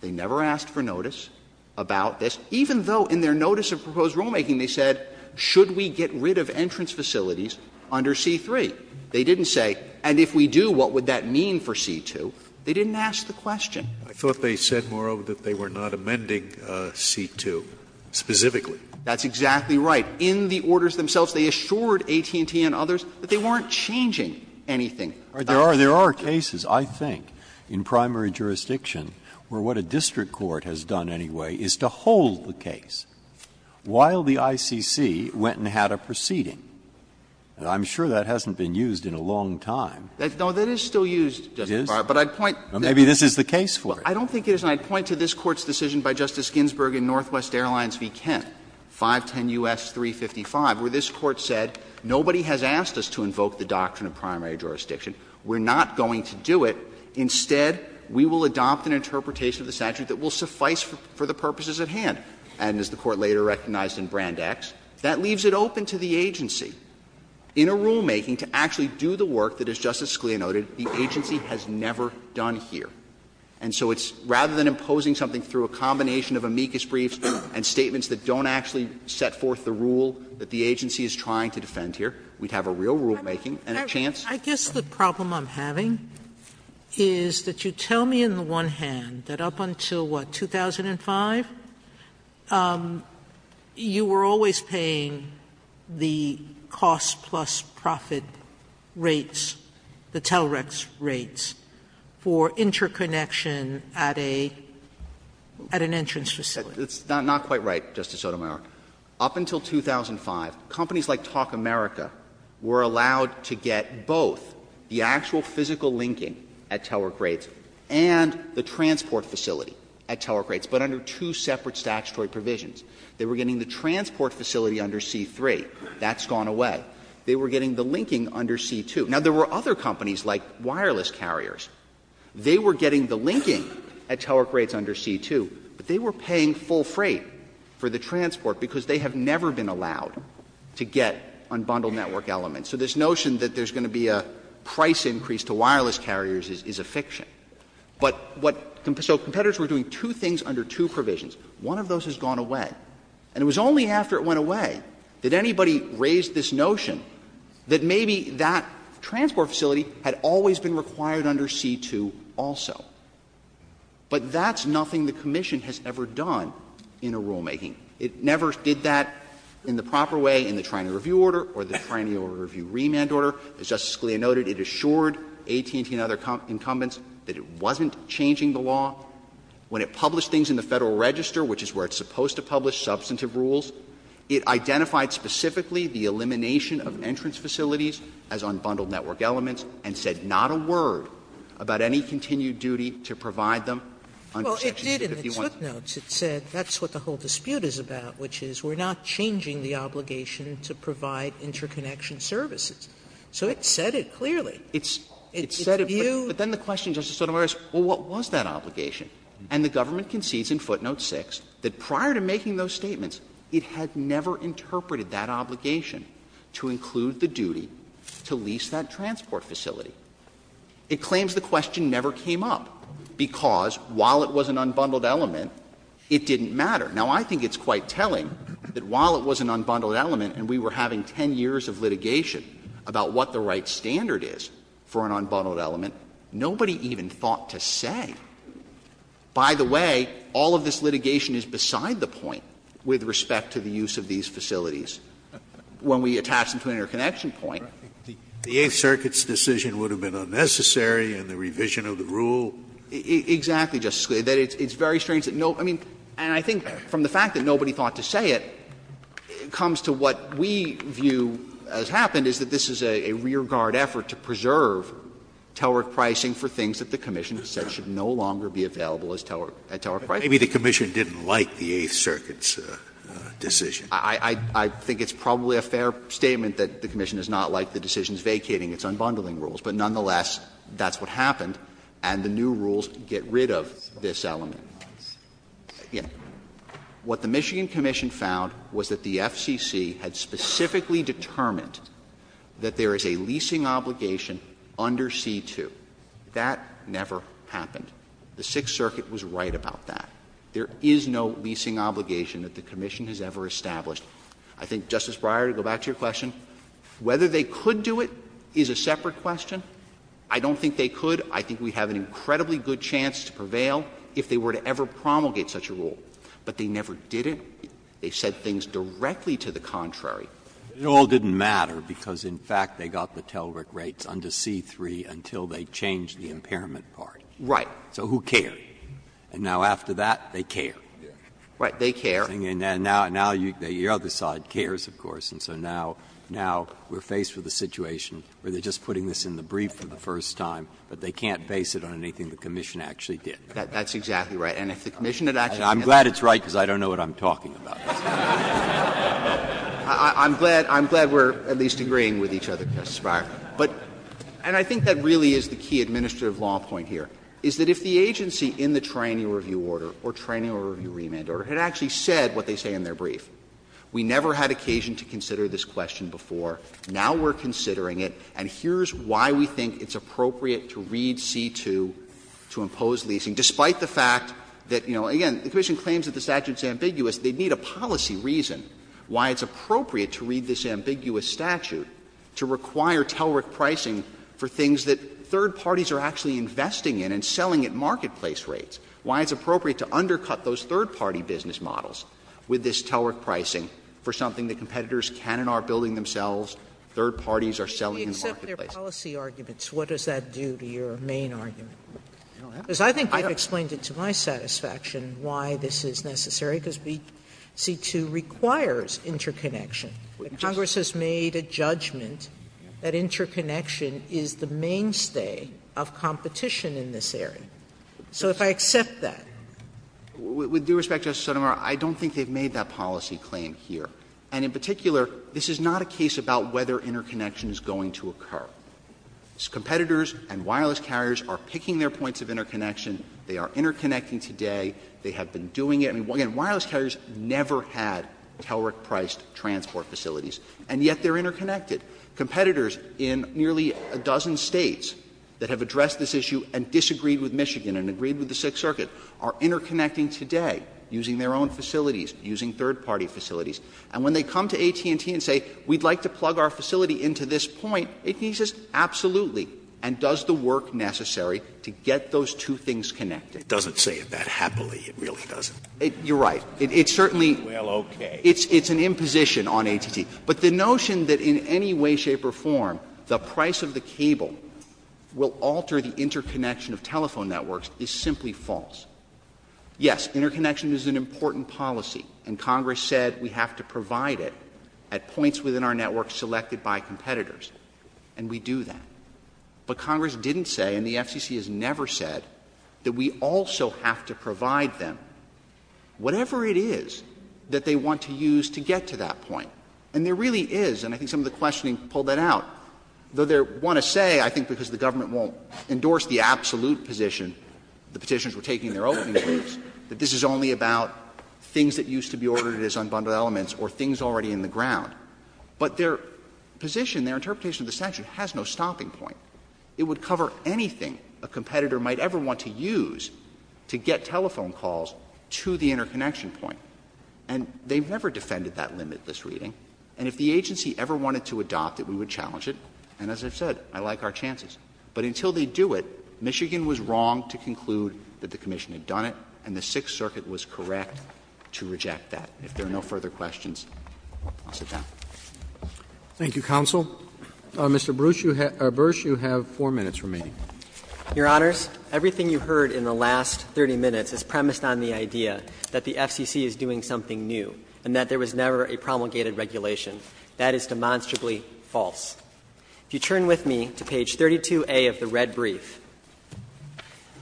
they never asked for notice about this, even though in their notice of proposed rulemaking they said should we get rid of entrance facilities under C-3. They didn't say and if we do, what would that mean for C-2. They didn't ask the question. Scalia. I thought they said moreover that they were not amending C-2 specifically. Verrilli, That's exactly right. In the orders themselves, they assured AT&T and others that they weren't changing anything. Breyer. There are cases, I think, in primary jurisdiction where what a district court has done anyway is to hold the case while the ICC went and had a proceeding. And I'm sure that hasn't been used in a long time. No, that is still used, Justice Breyer, but I'd point ‑‑ Maybe this is the case for it. I don't think it is. And I'd point to this Court's decision by Justice Ginsburg in Northwest Airlines v. Kent, 510 U.S. 355, where this Court said nobody has asked us to invoke the doctrine of primary jurisdiction, we're not going to do it, instead we will adopt an interpretation of the statute that will suffice for the purposes at hand. And as the Court later recognized in Brand X, that leaves it open to the agency in a rulemaking to actually do the work that, as Justice Scalia noted, the agency has never done here. And so it's rather than imposing something through a combination of amicus briefs and statements that don't actually set forth the rule that the agency is trying to defend here, we'd have a real rulemaking and a chance. Sotomayor, I guess the problem I'm having is that you tell me in the one hand that up until, what, 2005, you were always paying the cost plus profit rates, the TELREX rates, for interconnection at a ‑‑ at an entrance facility. It's not quite right, Justice Sotomayor. Up until 2005, companies like Talk America were allowed to get both the actual physical linking at TELREX rates and the transport facility at TELREX rates, but under two separate statutory provisions. They were getting the transport facility under C-3. That's gone away. They were getting the linking under C-2. Now, there were other companies like wireless carriers. They were getting the linking at TELREX rates under C-2. But they were paying full freight for the transport because they have never been allowed to get unbundled network elements. So this notion that there's going to be a price increase to wireless carriers is a fiction. But what ‑‑ so competitors were doing two things under two provisions. One of those has gone away. And it was only after it went away that anybody raised this notion that maybe that transport facility had always been required under C-2 also. But that's nothing the commission has ever done in a rulemaking. It never did that in the proper way in the training review order or the training order review remand order. As Justice Scalia noted, it assured AT&T and other incumbents that it wasn't changing the law. When it published things in the Federal Register, which is where it's supposed to publish substantive rules, it identified specifically the elimination of entrance facilities as unbundled network elements and said not a word about any continued duty to provide them under Section 6, if you want. Sotomayor, it did in its footnotes. It said that's what the whole dispute is about, which is we're not changing the obligation to provide interconnection services. So it said it clearly. It said it clearly. But then the question, Justice Sotomayor, is, well, what was that obligation? And the government concedes in footnote 6 that prior to making those statements, it had never interpreted that obligation to include the duty to lease that transport facility. It claims the question never came up, because while it was an unbundled element, it didn't matter. Now, I think it's quite telling that while it was an unbundled element and we were having 10 years of litigation about what the right standard is for an unbundled element, nobody even thought to say, by the way, all of this litigation is beside the point with respect to the use of these facilities, when we attach them to an interconnection point. Scalia, the Eighth Circuit's decision would have been unnecessary in the revision of the rule. Verrilli, Exactly, Justice Scalia. It's very strange that no one, I mean, and I think from the fact that nobody thought to say it, it comes to what we view has happened, is that this is a rearguard effort to preserve Teller pricing for things that the commission said should no longer be available as Teller pricing. Scalia, Maybe the commission didn't like the Eighth Circuit's decision. I think it's probably a fair statement that the commission does not like the decision's vacating its unbundling rules, but nonetheless, that's what happened and the new rules get rid of this element. What the Michigan Commission found was that the FCC had specifically determined that there is a leasing obligation under C-2. That never happened. The Sixth Circuit was right about that. There is no leasing obligation that the commission has ever established. I think, Justice Breyer, to go back to your question, whether they could do it is a separate question. I don't think they could. I think we have an incredibly good chance to prevail if they were to ever promulgate such a rule. But they never did it. They said things directly to the contrary. Breyer, It all didn't matter because, in fact, they got the Teller rates under C-3 until they changed the impairment part. Verrilli, Right. Breyer, So who cared? And now after that, they care. Verrilli, Right. They care. Breyer, And now your other side cares, of course. And so now we are faced with a situation where they are just putting this in the brief for the first time, but they can't base it on anything the commission actually did. Verrilli, That's exactly right. And if the commission had actually done that. Breyer, I'm glad it's right because I don't know what I'm talking about. Verrilli, I'm glad we are at least agreeing with each other, Justice Breyer. But, and I think that really is the key administrative law point here, is that if the agency in the Triennial Review Order or Triennial Review Remand Order had actually said what they say in their brief, we never had occasion to consider this question before, now we are considering it, and here is why we think it's appropriate to read C-2 to impose leasing, despite the fact that, you know, again, the commission claims that the statute is ambiguous, they need a policy reason why it's appropriate to read this ambiguous statute to require Teller pricing for things that third party business models with this Teller pricing for something that competitors can and are building themselves, third parties are selling in the marketplace. Sotomayor, if we accept their policy arguments, what does that do to your main argument? Because I think I've explained it to my satisfaction why this is necessary, because C-2 requires interconnection. Congress has made a judgment that interconnection is the mainstay of competition in this area. So if I accept that. With due respect, Justice Sotomayor, I don't think they've made that policy claim here. And in particular, this is not a case about whether interconnection is going to occur. Competitors and wireless carriers are picking their points of interconnection. They are interconnecting today. They have been doing it. I mean, again, wireless carriers never had Teller-priced transport facilities, and yet they are interconnected. Competitors in nearly a dozen States that have addressed this issue and disagreed with Michigan and agreed with the Sixth Circuit are interconnecting today, using their own facilities, using third-party facilities. And when they come to AT&T and say, we'd like to plug our facility into this point, AT&T says, absolutely, and does the work necessary to get those two things connected. Scalia. It doesn't say it that happily. It really doesn't. Verrilli, You're right. It's certainly. Scalia. Well, okay. Verrilli, It's an imposition on AT&T. But the notion that in any way, shape or form, the price of the cable will alter the interconnection of telephone networks is simply false. Yes, interconnection is an important policy, and Congress said we have to provide it at points within our network selected by competitors, and we do that. But Congress didn't say, and the FCC has never said, that we also have to provide them whatever it is that they want to use to get to that point. And there really is, and I think some of the questioning pulled that out, though I want to say, I think because the government won't endorse the absolute position the Petitioners were taking in their opening briefs, that this is only about things that used to be ordered as unbundled elements or things already in the ground. But their position, their interpretation of the statute has no stopping point. It would cover anything a competitor might ever want to use to get telephone calls to the interconnection point. And they've never defended that limitless reading. And if the agency ever wanted to adopt it, we would challenge it. And as I've said, I like our chances. But until they do it, Michigan was wrong to conclude that the Commission had done it, and the Sixth Circuit was correct to reject that. If there are no further questions, I'll sit down. Roberts. Thank you, counsel. Mr. Bruce, you have four minutes remaining. Your Honors, everything you heard in the last 30 minutes is premised on the idea that the FCC is doing something new and that there was never a promulgated regulation. That is demonstrably false. If you turn with me to page 32A of the red brief,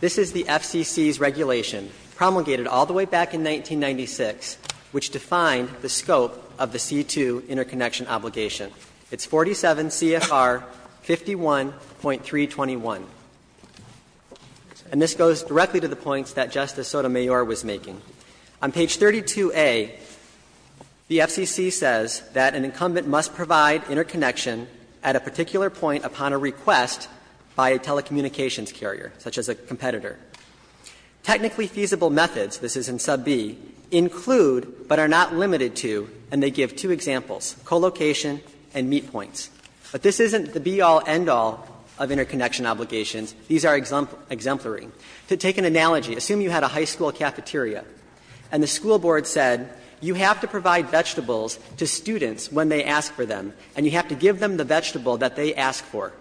this is the FCC's regulation, promulgated all the way back in 1996, which defined the scope of the C-2 interconnection obligation. It's 47 CFR 51.321. And this goes directly to the points that Justice Sotomayor was making. On page 32A, the FCC says that an incumbent must provide interconnection at a particular point upon a request by a telecommunications carrier, such as a competitor. Technically feasible methods, this is in sub B, include but are not limited to, and they give two examples, co-location and meet points. But this isn't the be-all, end-all of interconnection obligations. These are exemplary. To take an analogy, assume you had a high school cafeteria and the school board said you have to provide vegetables to students when they ask for them, and you have to give them the vegetable that they ask for.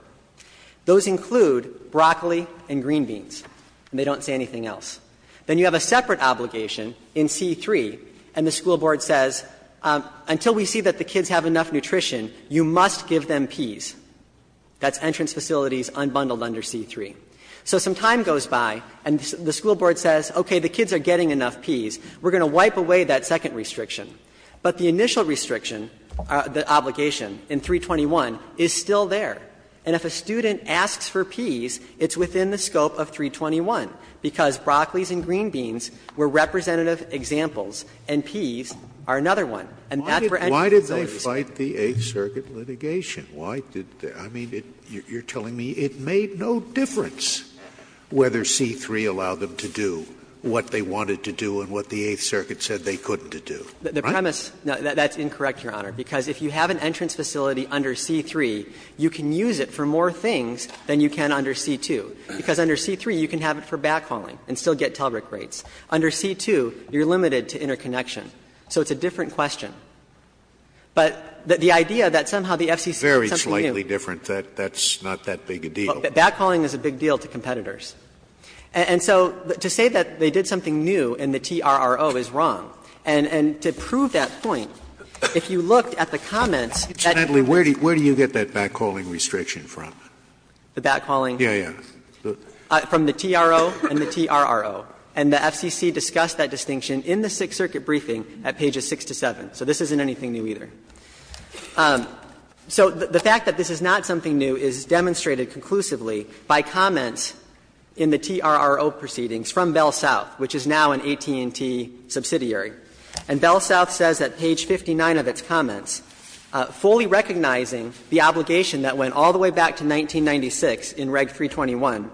Those include broccoli and green beans, and they don't say anything else. Then you have a separate obligation in C-3, and the school board says, until we see that the kids have enough nutrition, you must give them peas. That's entrance facilities unbundled under C-3. So some time goes by and the school board says, okay, the kids are getting enough peas, we're going to wipe away that second restriction. But the initial restriction, the obligation in 321 is still there. And if a student asks for peas, it's within the scope of 321, because broccolis and green beans were representative examples and peas are another one. And that's for entrance facilities. Scalia, why did they fight the Eighth Circuit litigation? Why did they? I mean, you're telling me it made no difference whether C-3 allowed them to do what they wanted to do and what the Eighth Circuit said they couldn't do. Right? The premise that's incorrect, Your Honor, because if you have an entrance facility under C-3, you can use it for more things than you can under C-2, because under C-3 you can have it for backhauling and still get TELRIC rates. Under C-2, you're limited to interconnection, so it's a different question. But the idea that somehow the FCC did something new. Scalia, that's not that big a deal. Backhauling is a big deal to competitors. And so to say that they did something new and the TRRO is wrong, and to prove that point, if you looked at the comments that you made. Scalia, where do you get that backhauling restriction from? The backhauling? Yeah, yeah. From the TRO and the TRRO. And the FCC discussed that distinction in the Sixth Circuit briefing at pages 6 to 7. So this isn't anything new either. So the fact that this is not something new is demonstrated conclusively by comments in the TRRO proceedings from Bell South, which is now an AT&T subsidiary. And Bell South says at page 59 of its comments, "...fully recognizing the obligation that went all the way back to 1996 in Reg. 321,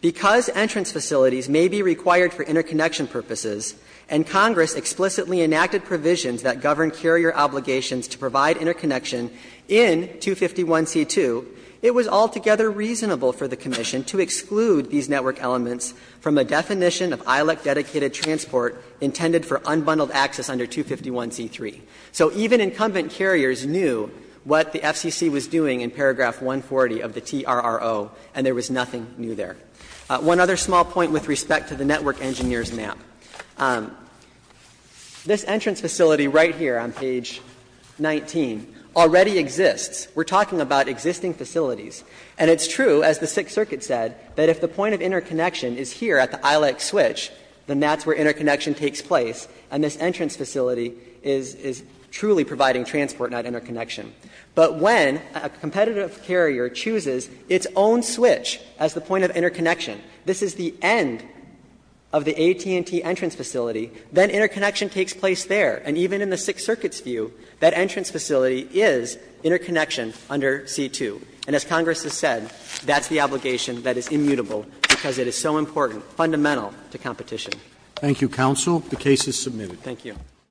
because entrance facilities may be required for interconnection purposes and Congress explicitly enacted provisions that govern carrier obligations to provide interconnection in 251c2, it was altogether reasonable for the Commission to exclude these network elements from a definition of ILEC-dedicated transport intended for unbundled access under 251c3." So even incumbent carriers knew what the FCC was doing in paragraph 140 of the TRRO, and there was nothing new there. One other small point with respect to the Network Engineers map. This entrance facility right here on page 19 already exists. We're talking about existing facilities. And it's true, as the Sixth Circuit said, that if the point of interconnection is here at the ILEC switch, then that's where interconnection takes place, and this entrance facility is truly providing transport, not interconnection. But when a competitive carrier chooses its own switch as the point of interconnection, this is the end of the AT&T entrance facility, then interconnection takes place there. And even in the Sixth Circuit's view, that entrance facility is interconnection under c2. And as Congress has said, that's the obligation that is immutable because it is so important, fundamental to competition. Roberts. Thank you, counsel. The case is submitted. Thank you.